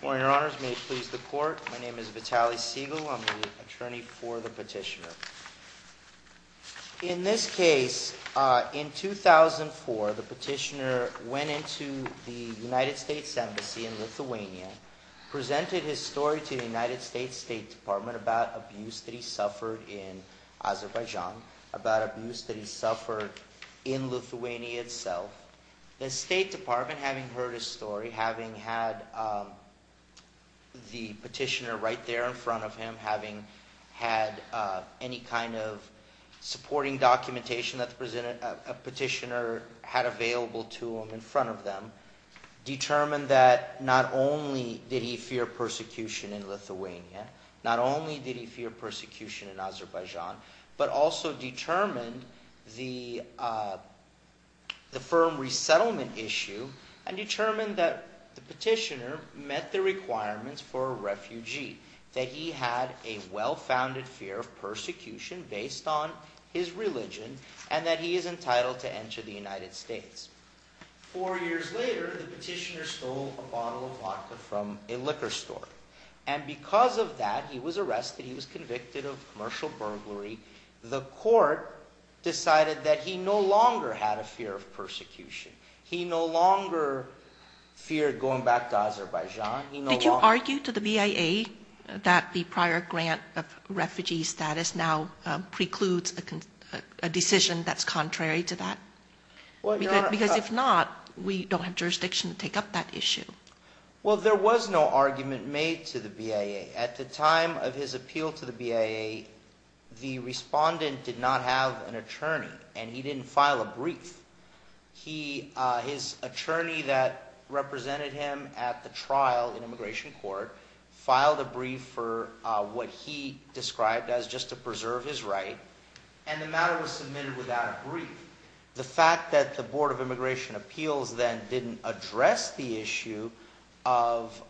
Good morning, Your Honors. May it please the Court. My name is Vitaly Segal. I'm the attorney for the petitioner. In this case, in 2004, the petitioner went into the United States Embassy in Lithuania, presented his story to the United States State Department about abuse that he suffered in Azerbaijan, about abuse that he suffered in Lithuania itself. The State Department, having heard his story, having had the petitioner right there in front of him, having had any kind of supporting documentation that the petitioner had available to him in front of them, determined that not only did he fear persecution in Lithuania, not only did he fear persecution in Azerbaijan, but also determined the firm resettlement issue and determined that the petitioner met the requirements for a refugee, that he had a well-founded fear of persecution based on his religion and that he is entitled to enter the United States. Four years later, the petitioner stole a bottle of vodka from a liquor store. And because of that, he was arrested, he was convicted of commercial burglary. The court decided that he no longer had a fear of persecution. He no longer feared going back to Azerbaijan. Did you argue to the BIA that the prior grant of refugee status now precludes a decision that's contrary to that? Because if not, we don't have jurisdiction to take up that issue. Well, there was no argument made to the BIA. At the time of his appeal to the BIA, the respondent did not have an attorney, and he didn't file a brief. His attorney that represented him at the trial in immigration court filed a brief for what he described as just to preserve his right, and the matter was submitted without a brief. The fact that the Board of Immigration Appeals then didn't address the issue of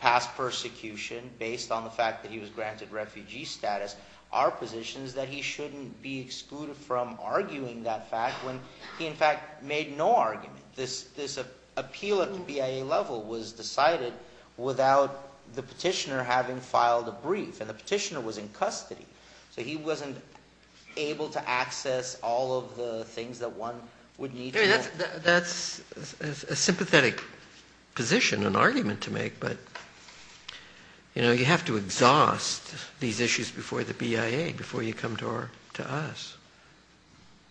past persecution based on the fact that he was granted refugee status are positions that he shouldn't be excluded from arguing that fact when he, in fact, made no argument. This appeal at the BIA level was decided without the petitioner having filed a brief, and the petitioner was in custody, so he wasn't able to access all of the things that one would need to know. That's a sympathetic position, an argument to make, but you have to exhaust these issues before the BIA, before you come to us.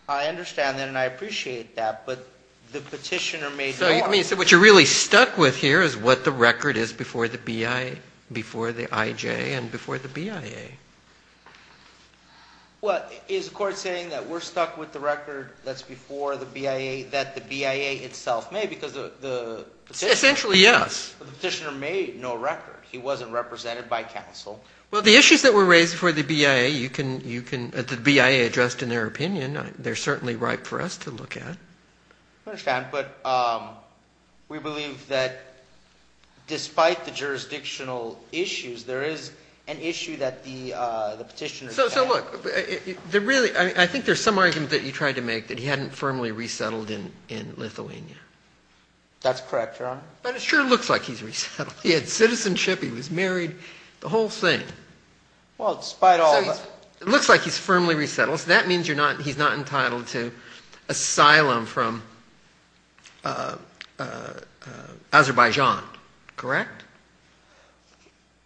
I understand that, and I appreciate that, but the petitioner made no argument. So what you're really stuck with here is what the record is before the BIA, before the IJ, and before the BIA. Well, is the court saying that we're stuck with the record that's before the BIA, that the BIA itself made, because the petitioner made no record? Essentially, yes. He wasn't represented by counsel. Well, the issues that were raised before the BIA, you can – the BIA addressed in their opinion. They're certainly ripe for us to look at. I understand, but we believe that despite the jurisdictional issues, there is an issue that the petitioner – So look, there really – I think there's some argument that he tried to make that he hadn't firmly resettled in Lithuania. That's correct, Your Honor. But it sure looks like he's resettled. He had citizenship, he was married, the whole thing. Well, despite all – It looks like he's firmly resettled, so that means you're not – he's not entitled to asylum from Azerbaijan, correct?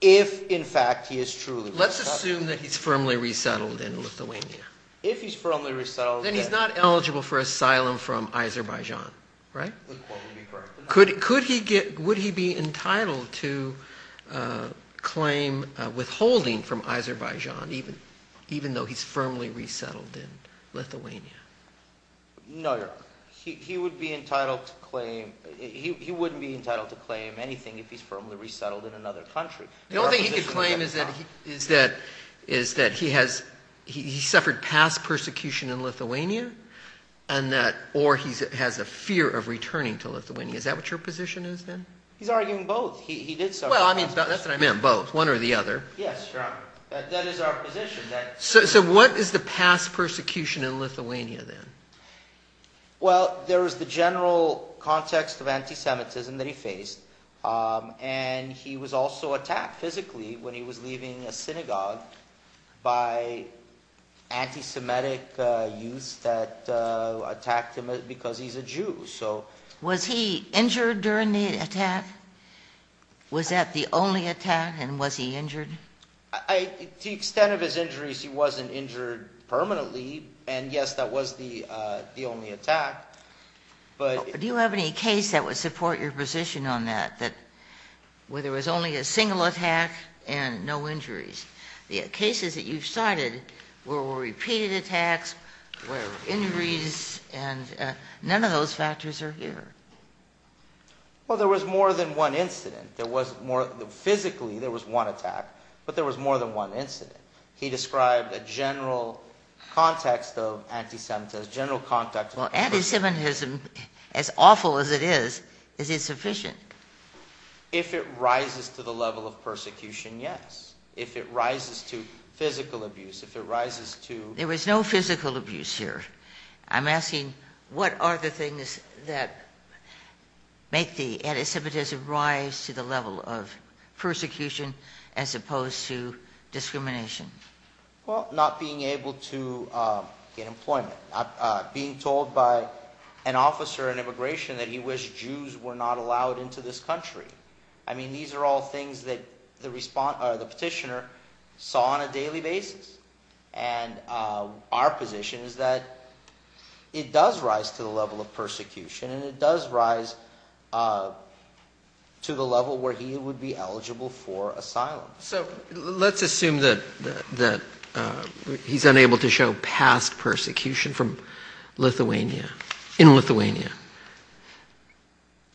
If, in fact, he is truly – Let's assume that he's firmly resettled in Lithuania. If he's firmly resettled – Then he's not eligible for asylum from Azerbaijan, right? Could he get – would he be entitled to claim withholding from Azerbaijan even though he's firmly resettled in Lithuania? No, Your Honor. He would be entitled to claim – he wouldn't be entitled to claim anything if he's firmly resettled in another country. The only thing he could claim is that he has – he suffered past persecution in Lithuania and that – or he has a fear of returning to Lithuania. Is that what your position is then? He's arguing both. He did suffer past persecution. Well, I mean, that's what I meant, both, one or the other. Yes, Your Honor. That is our position. So what is the past persecution in Lithuania then? Well, there was the general context of anti-Semitism that he faced and he was also attacked physically when he was leaving a synagogue by anti-Semitic youths that attacked him because he's a Jew, so – Was he injured during the attack? Was that the only attack and was he injured? To the extent of his injuries, he wasn't injured permanently, and yes, that was the only attack, but – Do you have any case that would support your position on that, that – where there was only a single attack and no injuries? The cases that you've cited were repeated attacks, were injuries, and none of those factors are here. Well, there was more than one incident. There was more – physically, there was one attack, but there was more than one incident. He described a general context of anti-Semitism, general context – Well, anti-Semitism, as awful as it is, is it sufficient? If it rises to the level of persecution, yes. If it rises to physical abuse, if it rises to – There was no physical abuse here. I'm asking what are the things that make the anti-Semitism rise to the level of persecution as opposed to discrimination? Well, not being able to get employment, being told by an officer in immigration that he wished Jews were not allowed into this country. I mean, these are all things that the petitioner saw on a daily basis, and our position is that it does rise to the level of persecution, and it does rise to the level where he would be eligible for asylum. So let's assume that he's unable to show past persecution from Lithuania – in Lithuania.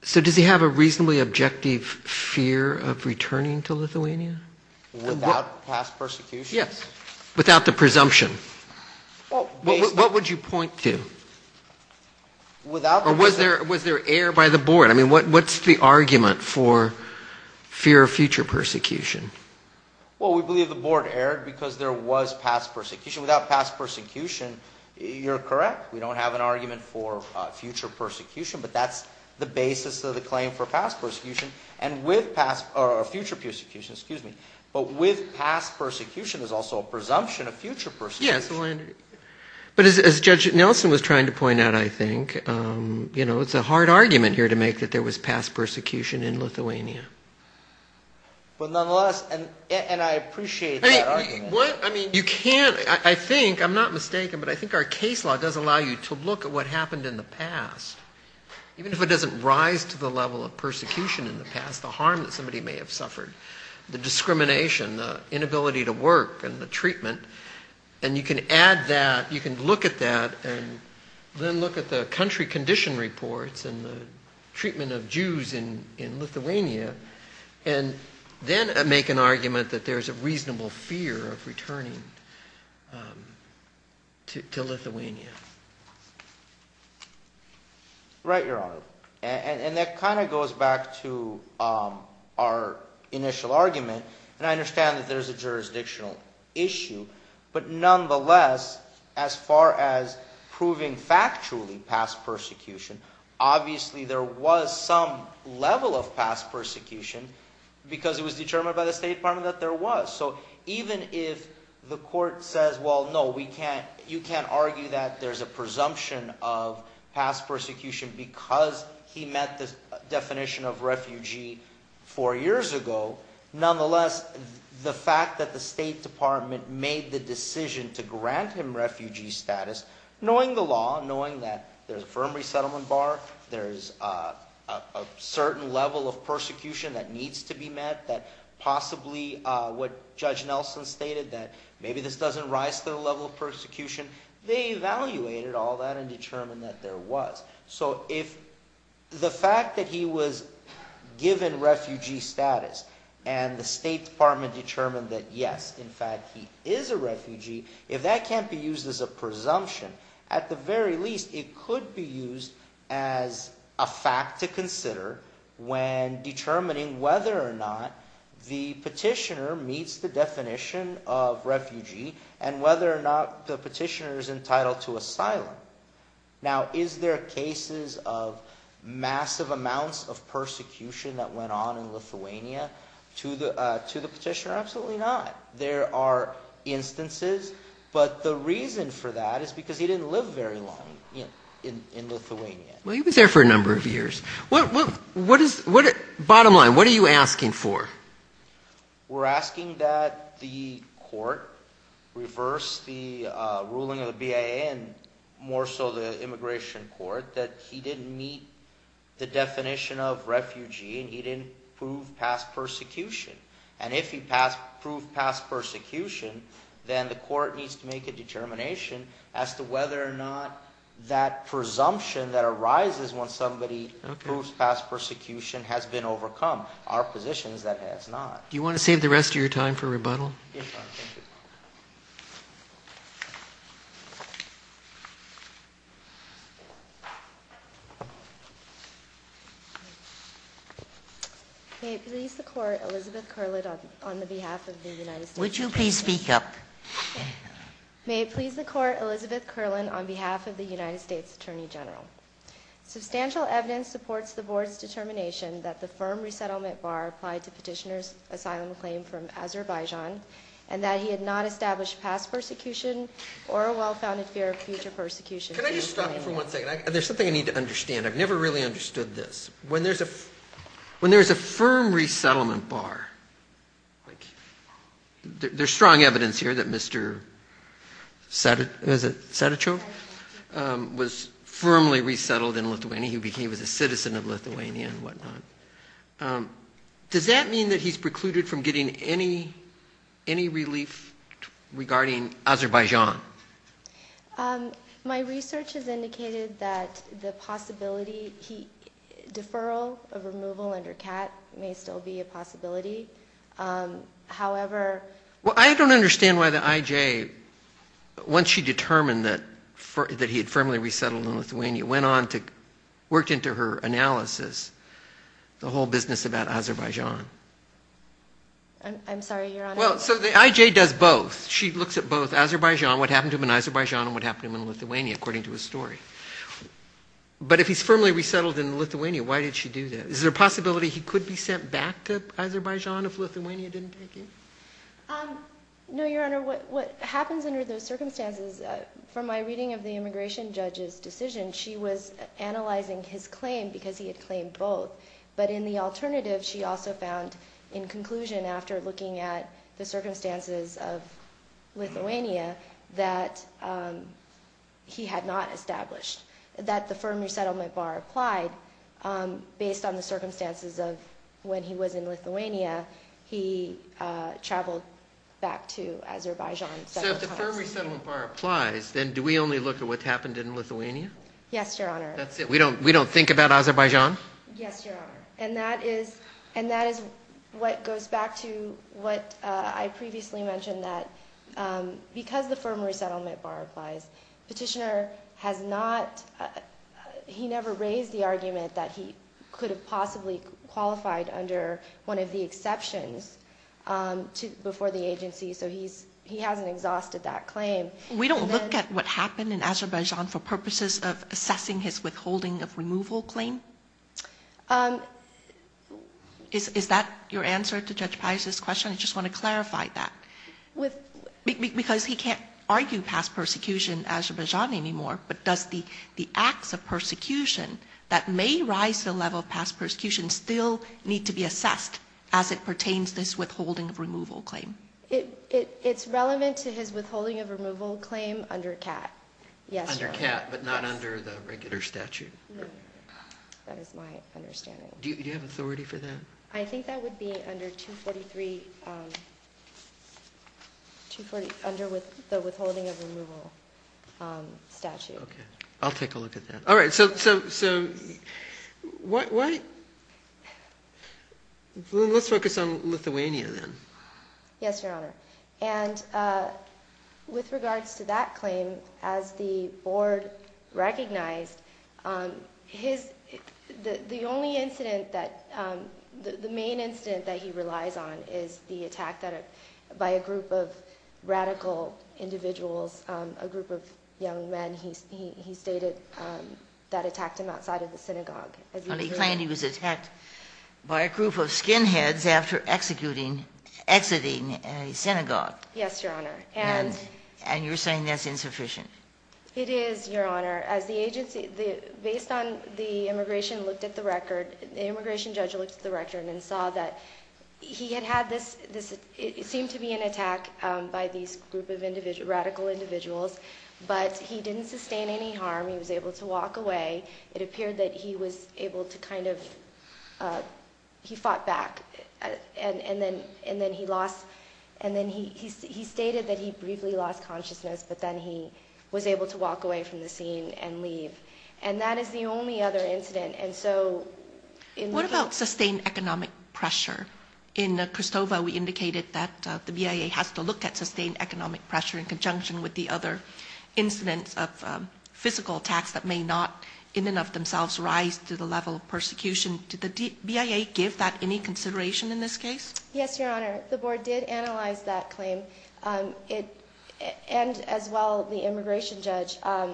So does he have a reasonably objective fear of returning to Lithuania? Without past persecution? Yes. Without the presumption. What would you point to? Or was there air by the board? I mean, what's the argument for fear of future persecution? Well, we believe the board erred because there was past persecution. Without past persecution, you're correct. We don't have an argument for future persecution, but that's the basis of the claim for future persecution. But with past persecution, there's also a presumption of future persecution. But as Judge Nelson was trying to point out, I think, you know, it's a hard argument here to make that there was past persecution in Lithuania. But nonetheless, and I appreciate that argument. You can't – I think, I'm not mistaken, but I think our case law does allow you to look at what happened in the past. Even if it doesn't rise to the level of persecution in the past, the harm that somebody may have suffered, the discrimination, the inability to work and the treatment, and you can add that, you can look at that, and then look at the country condition reports and the treatment of Jews in Lithuania, and then make an argument that there's a reasonable fear of returning to Lithuania. Right, Your Honor. And that kind of goes back to our initial argument, and I understand that there's a jurisdictional issue. But nonetheless, as far as proving factually past persecution, obviously there was some level of past persecution because it was determined by the State Department that there was. So even if the court says, well, no, we can't – you can't argue that there's a presumption of past persecution because he met the definition of refugee four years ago, nonetheless, the fact that the State Department made the decision to grant him refugee status, knowing the law, knowing that there's a firm resettlement bar, there's a certain level of persecution that needs to be met, that possibly what Judge Nelson stated, that maybe this doesn't rise to the level of persecution, they evaluated all that and determined that there was. So if the fact that he was given refugee status and the State Department determined that, yes, in fact, he is a refugee, if that can't be used as a presumption, at the very least, it could be used as a fact to consider when determining whether or not the petitioner meets the definition of refugee and whether or not the petitioner is entitled to asylum. Now, is there cases of massive amounts of persecution that went on in Lithuania to the petitioner? Absolutely not. There are instances, but the reason for that is because he didn't live very long in Lithuania. Well, he was there for a number of years. What is – bottom line, what are you asking for? We're asking that the court reverse the ruling of the BIA and more so the immigration court that he didn't meet the definition of refugee and he didn't prove past persecution. And if he proved past persecution, then the court needs to make a determination as to whether or not that presumption that arises when somebody proves past persecution has been overcome. Our position is that it has not. Do you want to save the rest of your time for rebuttal? Yes, Your Honor. Thank you. May it please the Court, Elizabeth Kurland on behalf of the United States Attorney General. Would you please speak up? May it please the Court, Elizabeth Kurland on behalf of the United States Attorney General. Substantial evidence supports the Board's determination that the firm resettlement bar applied to petitioner's asylum claim from Azerbaijan and that he had not established past persecution or a well-founded fear of future persecution. Can I just stop you for one second? There's something I need to understand. I've never really understood this. When there's a firm resettlement bar – there's strong evidence here that Mr. Sadichov was firmly resettled in Lithuania. He was a citizen of Lithuania and whatnot. Does that mean that he's precluded from getting any relief regarding Azerbaijan? My research has indicated that the possibility – deferral of removal under CAT may still be a possibility. However – Well, I don't understand why the IJ, once she determined that he had firmly resettled in Lithuania, went on to work into her analysis the whole business about Azerbaijan. I'm sorry, Your Honor. Well, so the IJ does both. She looks at both Azerbaijan, what happened to him in Azerbaijan and what happened to him in Lithuania, according to his story. But if he's firmly resettled in Lithuania, why did she do that? Is there a possibility he could be sent back to Azerbaijan if Lithuania didn't take him? No, Your Honor. What happens under those circumstances – from my reading of the immigration judge's decision, she was analyzing his claim because he had claimed both. But in the alternative, she also found in conclusion after looking at the circumstances of Lithuania that he had not established, that the firm resettlement bar applied based on the circumstances of when he was in Lithuania. He traveled back to Azerbaijan several times. So if the firm resettlement bar applies, then do we only look at what's happened in Lithuania? Yes, Your Honor. That's it? We don't think about Azerbaijan? Yes, Your Honor. And that is what goes back to what I previously mentioned, that because the firm resettlement bar applies, petitioner has not – he never raised the argument that he could have possibly qualified under one of the exceptions before the agency, so he hasn't exhausted that claim. We don't look at what happened in Azerbaijan for purposes of assessing his withholding of removal claim? Is that your answer to Judge Pius' question? I just want to clarify that. With – Because he can't argue past persecution in Azerbaijan anymore, but does the acts of persecution that may rise to the level of past persecution still need to be assessed as it pertains to his withholding of removal claim? It's relevant to his withholding of removal claim under CAT. Under CAT, but not under the regular statute? No, that is my understanding. Do you have authority for that? I think that would be under 243 – under the withholding of removal statute. Okay, I'll take a look at that. All right, so what – let's focus on Lithuania then. Yes, Your Honor. And with regards to that claim, as the Board recognized, his – the only incident that – the main incident that he relies on is the attack that – by a group of radical individuals, a group of young men, he stated, that attacked him outside of the synagogue. But he claimed he was attacked by a group of skinheads after executing – exiting a synagogue. Yes, Your Honor. And you're saying that's insufficient? It is, Your Honor. As the agency – based on – the immigration looked at the record – the immigration judge looked at the record and saw that he had had this – it seemed to be an attack by these group of individual – radical individuals, but he didn't sustain any harm. He was able to walk away. It appeared that he was able to kind of – he fought back. And then he lost – and then he stated that he briefly lost consciousness, but then he was able to walk away from the scene and leave. And that is the only other incident. And so – What about sustained economic pressure? In Kristova, we indicated that the BIA has to look at sustained economic pressure in conjunction with the other incidents of physical attacks that may not in and of themselves rise to the level of persecution. Did the BIA give that any consideration in this case? Yes, Your Honor. The board did analyze that claim. It – and as well the immigration judge. That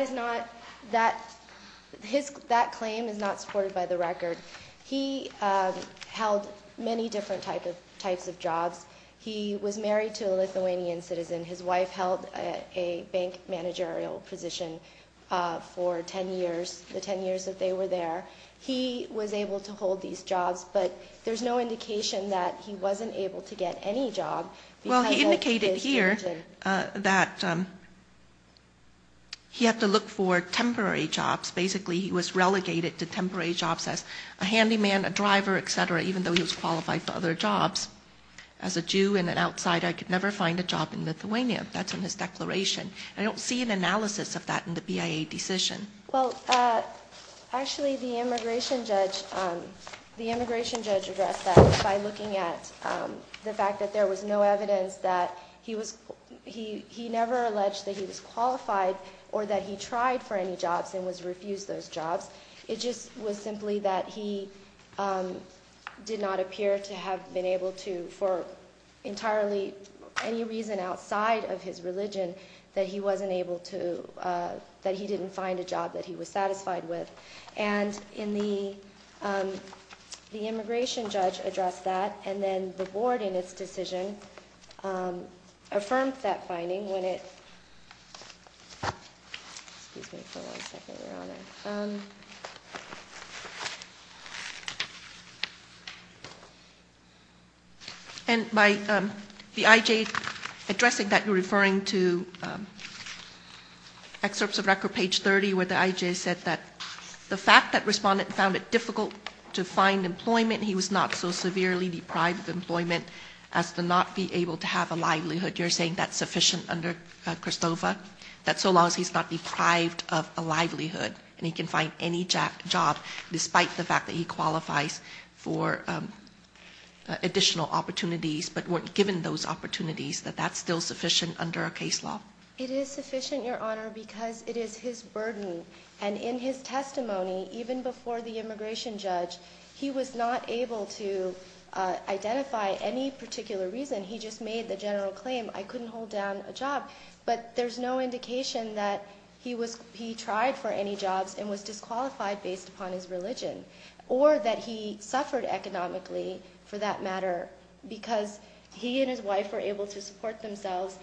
is not – that – his – that claim is not supported by the record. He held many different types of jobs. He was married to a Lithuanian citizen. His wife held a bank managerial position for 10 years – the 10 years that they were there. He was able to hold these jobs, but there's no indication that he wasn't able to get any job because of his – He had to look for temporary jobs. Basically, he was relegated to temporary jobs as a handyman, a driver, et cetera, even though he was qualified for other jobs. As a Jew and an outsider, I could never find a job in Lithuania. That's in his declaration. I don't see an analysis of that in the BIA decision. Well, actually, the immigration judge addressed that by looking at the fact that there was no evidence that he was – he never alleged that he was qualified or that he tried for any jobs and was refused those jobs. It just was simply that he did not appear to have been able to, for entirely any reason outside of his religion, that he wasn't able to – that he didn't find a job that he was satisfied with. And in the – the immigration judge addressed that, and then the Board, in its decision, affirmed that finding when it – excuse me for one second, Your Honor. And by the IJ addressing that, you're referring to excerpts of record, page 30, where the IJ said that the fact that respondent found it difficult to find employment, he was not so severely deprived of employment as to not be able to have a livelihood. You're saying that's sufficient under Kristofa, that so long as he's not deprived of a livelihood and he can find any job, despite the fact that he qualifies for additional opportunities but weren't given those opportunities, that that's still sufficient under a case law? It is sufficient, Your Honor, because it is his burden, and in his testimony, even before the immigration judge, he was not able to identify any particular reason. He just made the general claim, I couldn't hold down a job. But there's no indication that he was – he tried for any jobs and was disqualified based upon his religion, or that he suffered economically, for that matter, because he and his wife were able to support themselves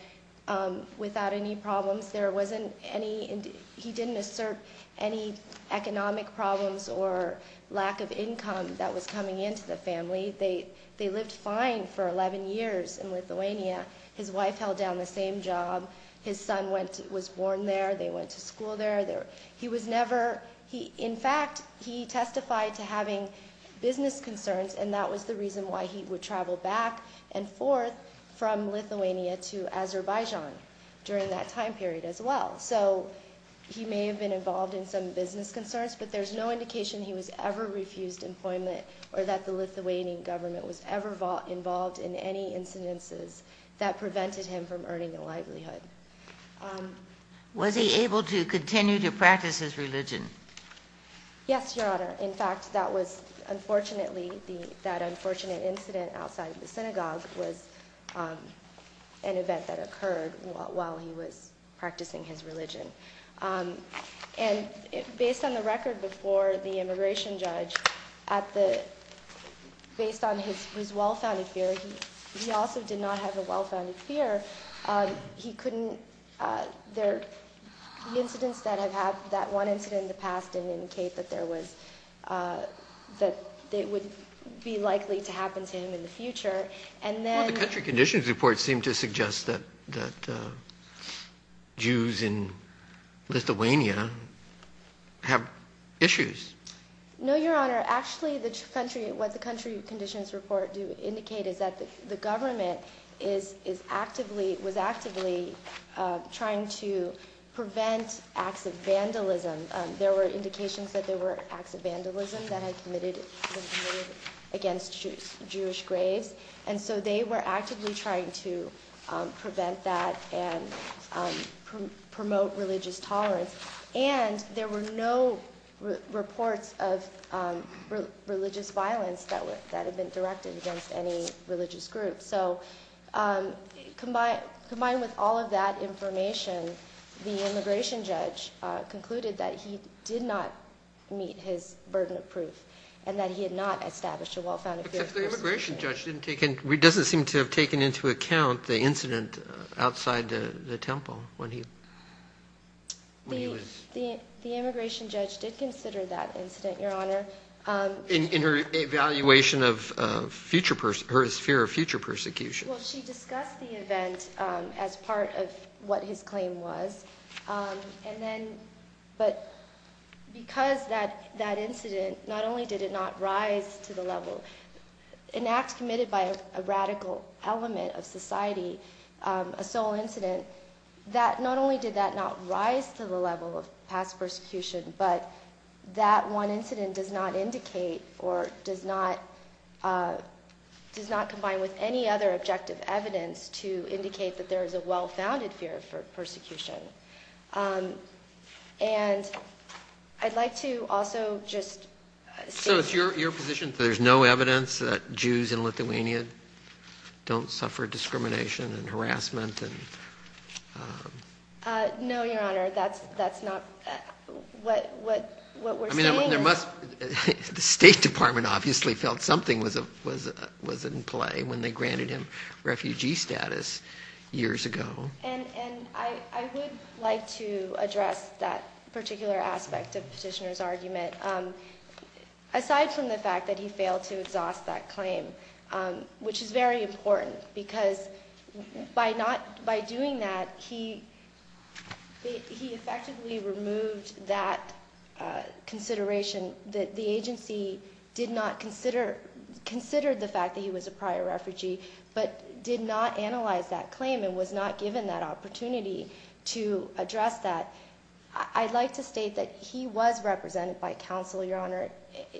without any problems. There wasn't any – he didn't assert any economic problems or lack of income that was coming into the family. They lived fine for 11 years in Lithuania. His wife held down the same job. His son was born there. They went to school there. He was never – in fact, he testified to having business concerns, and that was the reason why he would travel back and forth from Lithuania to Azerbaijan during that time period as well. So he may have been involved in some business concerns, but there's no indication he was ever refused employment or that the Lithuanian government was ever involved in any incidences that prevented him from earning a livelihood. Was he able to continue to practice his religion? Yes, Your Honor. In fact, that was – unfortunately, that unfortunate incident outside the synagogue was an event that occurred while he was practicing his religion. And based on the record before the immigration judge, at the – based on his well-founded fear, he also did not have a well-founded fear. He couldn't – there – the incidents that have happened – that one incident in the past didn't indicate that there was – that it would be likely to happen to him in the future. Well, the country conditions report seemed to suggest that Jews in Lithuania have issues. No, Your Honor. Actually, the country – what the country conditions report do indicate is that the government is actively – was actively trying to prevent acts of vandalism. There were indications that there were acts of vandalism that had committed against Jewish graves. And so they were actively trying to prevent that and promote religious tolerance. And there were no reports of religious violence that had been directed against any religious group. So combined with all of that information, the immigration judge concluded that he did not meet his burden of proof and that he had not established a well-founded fear. Except the immigration judge didn't take – doesn't seem to have taken into account the incident outside the temple when he was – The immigration judge did consider that incident, Your Honor. In her evaluation of future – her fear of future persecution. Well, she discussed the event as part of what his claim was. And then – but because that incident, not only did it not rise to the level – an act committed by a radical element of society, a sole incident, that – not only did that not rise to the level of past persecution, but that one incident does not indicate or does not combine with any other objective evidence to indicate that there is a well-founded fear of persecution. And I'd like to also just say – So it's your position that there's no evidence that Jews and Lithuanian don't suffer discrimination and harassment and – No, Your Honor, that's not – what we're saying is – I mean, there must – the State Department obviously felt something was in play when they granted him refugee status years ago. And I would like to address that particular aspect of Petitioner's argument. Aside from the fact that he failed to exhaust that claim, which is very important, because by not – by doing that, he effectively removed that consideration. The agency did not consider – considered the fact that he was a prior refugee, but did not analyze that claim and was not given that opportunity to address that. I'd like to state that he was represented by counsel, Your Honor,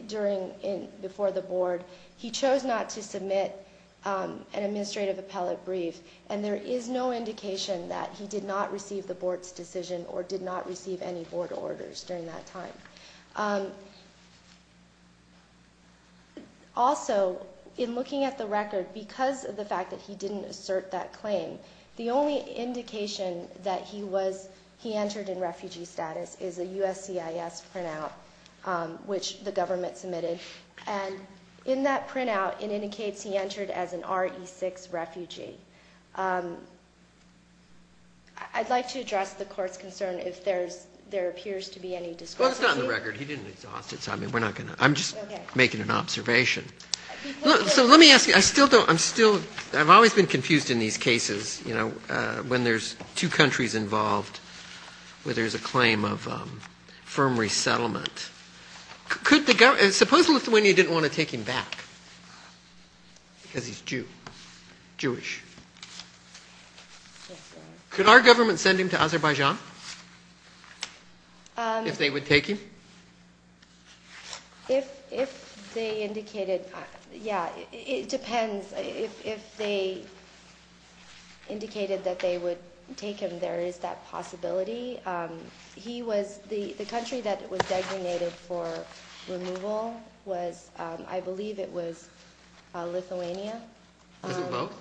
during – before the board. He chose not to submit an administrative appellate brief, and there is no indication that he did not receive the board's decision or did not receive any board orders during that time. Also, in looking at the record, because of the fact that he didn't assert that claim, the only indication that he was – he entered in refugee status is a USCIS printout, which the government submitted. And in that printout, it indicates he entered as an RE6 refugee. I'd like to address the Court's concern if there's – there appears to be any discrepancy. Well, it's not in the record. He didn't exhaust it, so I mean, we're not going to – I'm just making an observation. So let me ask you. I still don't – I'm still – I've always been confused in these cases, you know, when there's two countries involved where there's a claim of firm resettlement. Could the – suppose Lithuania didn't want to take him back because he's Jew – Jewish. Yes, Your Honor. Could our government send him to Azerbaijan if they would take him? If they indicated – yeah, it depends. If they indicated that they would take him, there is that possibility. He was – the country that was designated for removal was – I believe it was Lithuania. Was it both?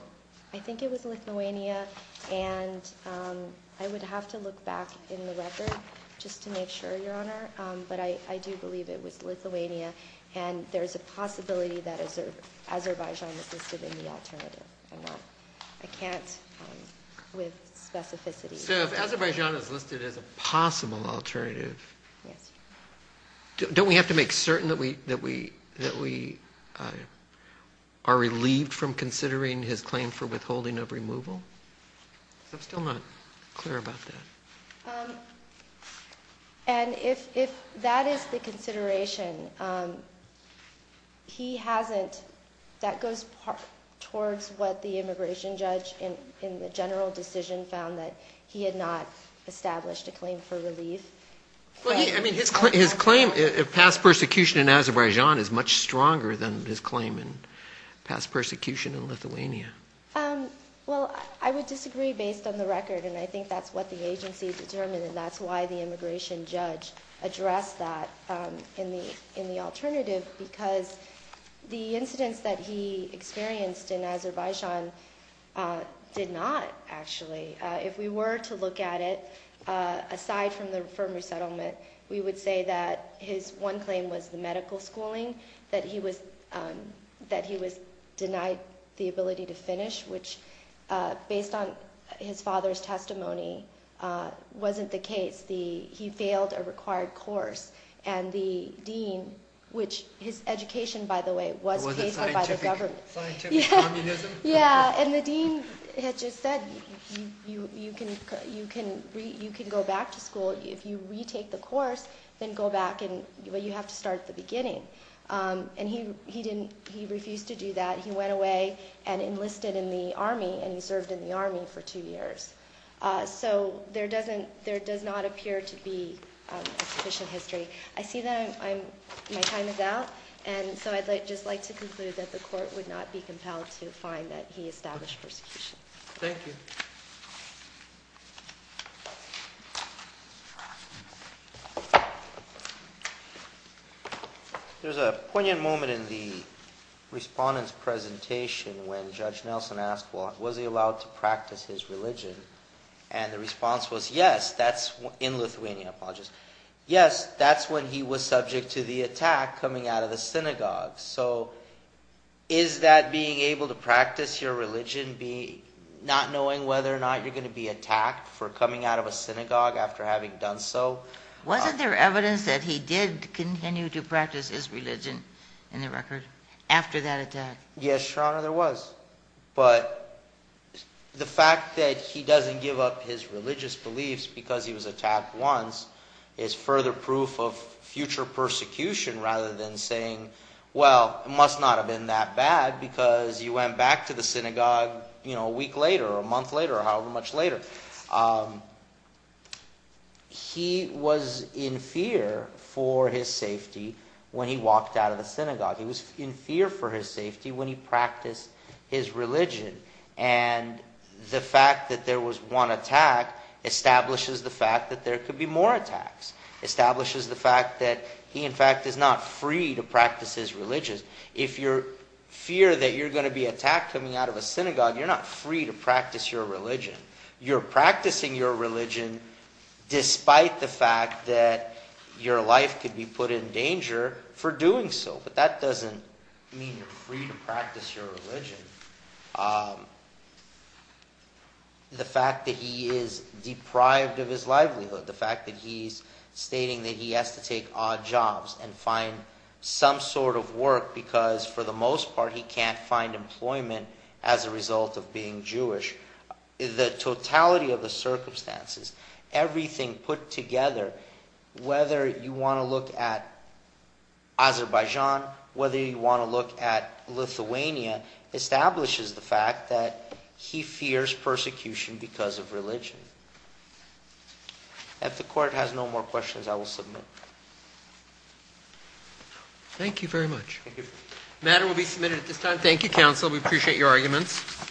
I think it was Lithuania, and I would have to look back in the record just to make sure, Your Honor. But I do believe it was Lithuania, and there is a possibility that Azerbaijan was listed in the alternative. I'm not – I can't, with specificity – So if Azerbaijan is listed as a possible alternative – Yes. Don't we have to make certain that we are relieved from considering his claim for withholding of removal? I'm still not clear about that. And if that is the consideration, he hasn't – that goes towards what the immigration judge in the general decision found, that he had not established a claim for relief. Well, I mean, his claim – past persecution in Azerbaijan is much stronger than his claim in past persecution in Lithuania. Well, I would disagree based on the record, and I think that's what the agency determined, and that's why the immigration judge addressed that in the alternative, because the incidents that he experienced in Azerbaijan did not, actually. If we were to look at it, aside from the firm resettlement, we would say that his one claim was the medical schooling, that he was denied the ability to finish, which, based on his father's testimony, wasn't the case. He failed a required course, and the dean, which – his education, by the way, was favored by the government. It wasn't scientific communism? Yeah, and the dean had just said, you can go back to school. If you retake the course, then go back, but you have to start at the beginning. And he didn't – he refused to do that. He went away and enlisted in the army, and he served in the army for two years. So there doesn't – there does not appear to be a sufficient history. I see that I'm – my time is out, and so I'd just like to conclude that the court would not be compelled to find that he established persecution. Thank you. There's a poignant moment in the respondent's presentation when Judge Nelson asked, well, was he allowed to practice his religion, and the response was, yes, that's – in Lithuania, I apologize. Yes, that's when he was subject to the attack coming out of the synagogue. So is that being able to practice your religion be – not knowing whether or not you're going to be attacked for coming out of a synagogue after having done so? Wasn't there evidence that he did continue to practice his religion, in the record, after that attack? Yes, Your Honor, there was. But the fact that he doesn't give up his religious beliefs because he was attacked once is further proof of future persecution, rather than saying, well, it must not have been that bad because you went back to the synagogue a week later or a month later or however much later. He was in fear for his safety when he walked out of the synagogue. He was in fear for his safety when he practiced his religion. And the fact that there was one attack establishes the fact that there could be more attacks, establishes the fact that he, in fact, is not free to practice his religion. If you fear that you're going to be attacked coming out of a synagogue, you're not free to practice your religion. You're practicing your religion despite the fact that your life could be put in danger for doing so. But that doesn't mean you're free to practice your religion. The fact that he is deprived of his livelihood, the fact that he's stating that he has to take odd jobs and find some sort of work because, for the most part, he can't find employment as a result of being Jewish, the totality of the circumstances, everything put together, whether you want to look at Azerbaijan, whether you want to look at Lithuania, establishes the fact that he fears persecution because of religion. If the court has no more questions, I will submit. Thank you very much. The matter will be submitted at this time. Thank you, counsel. We appreciate your arguments.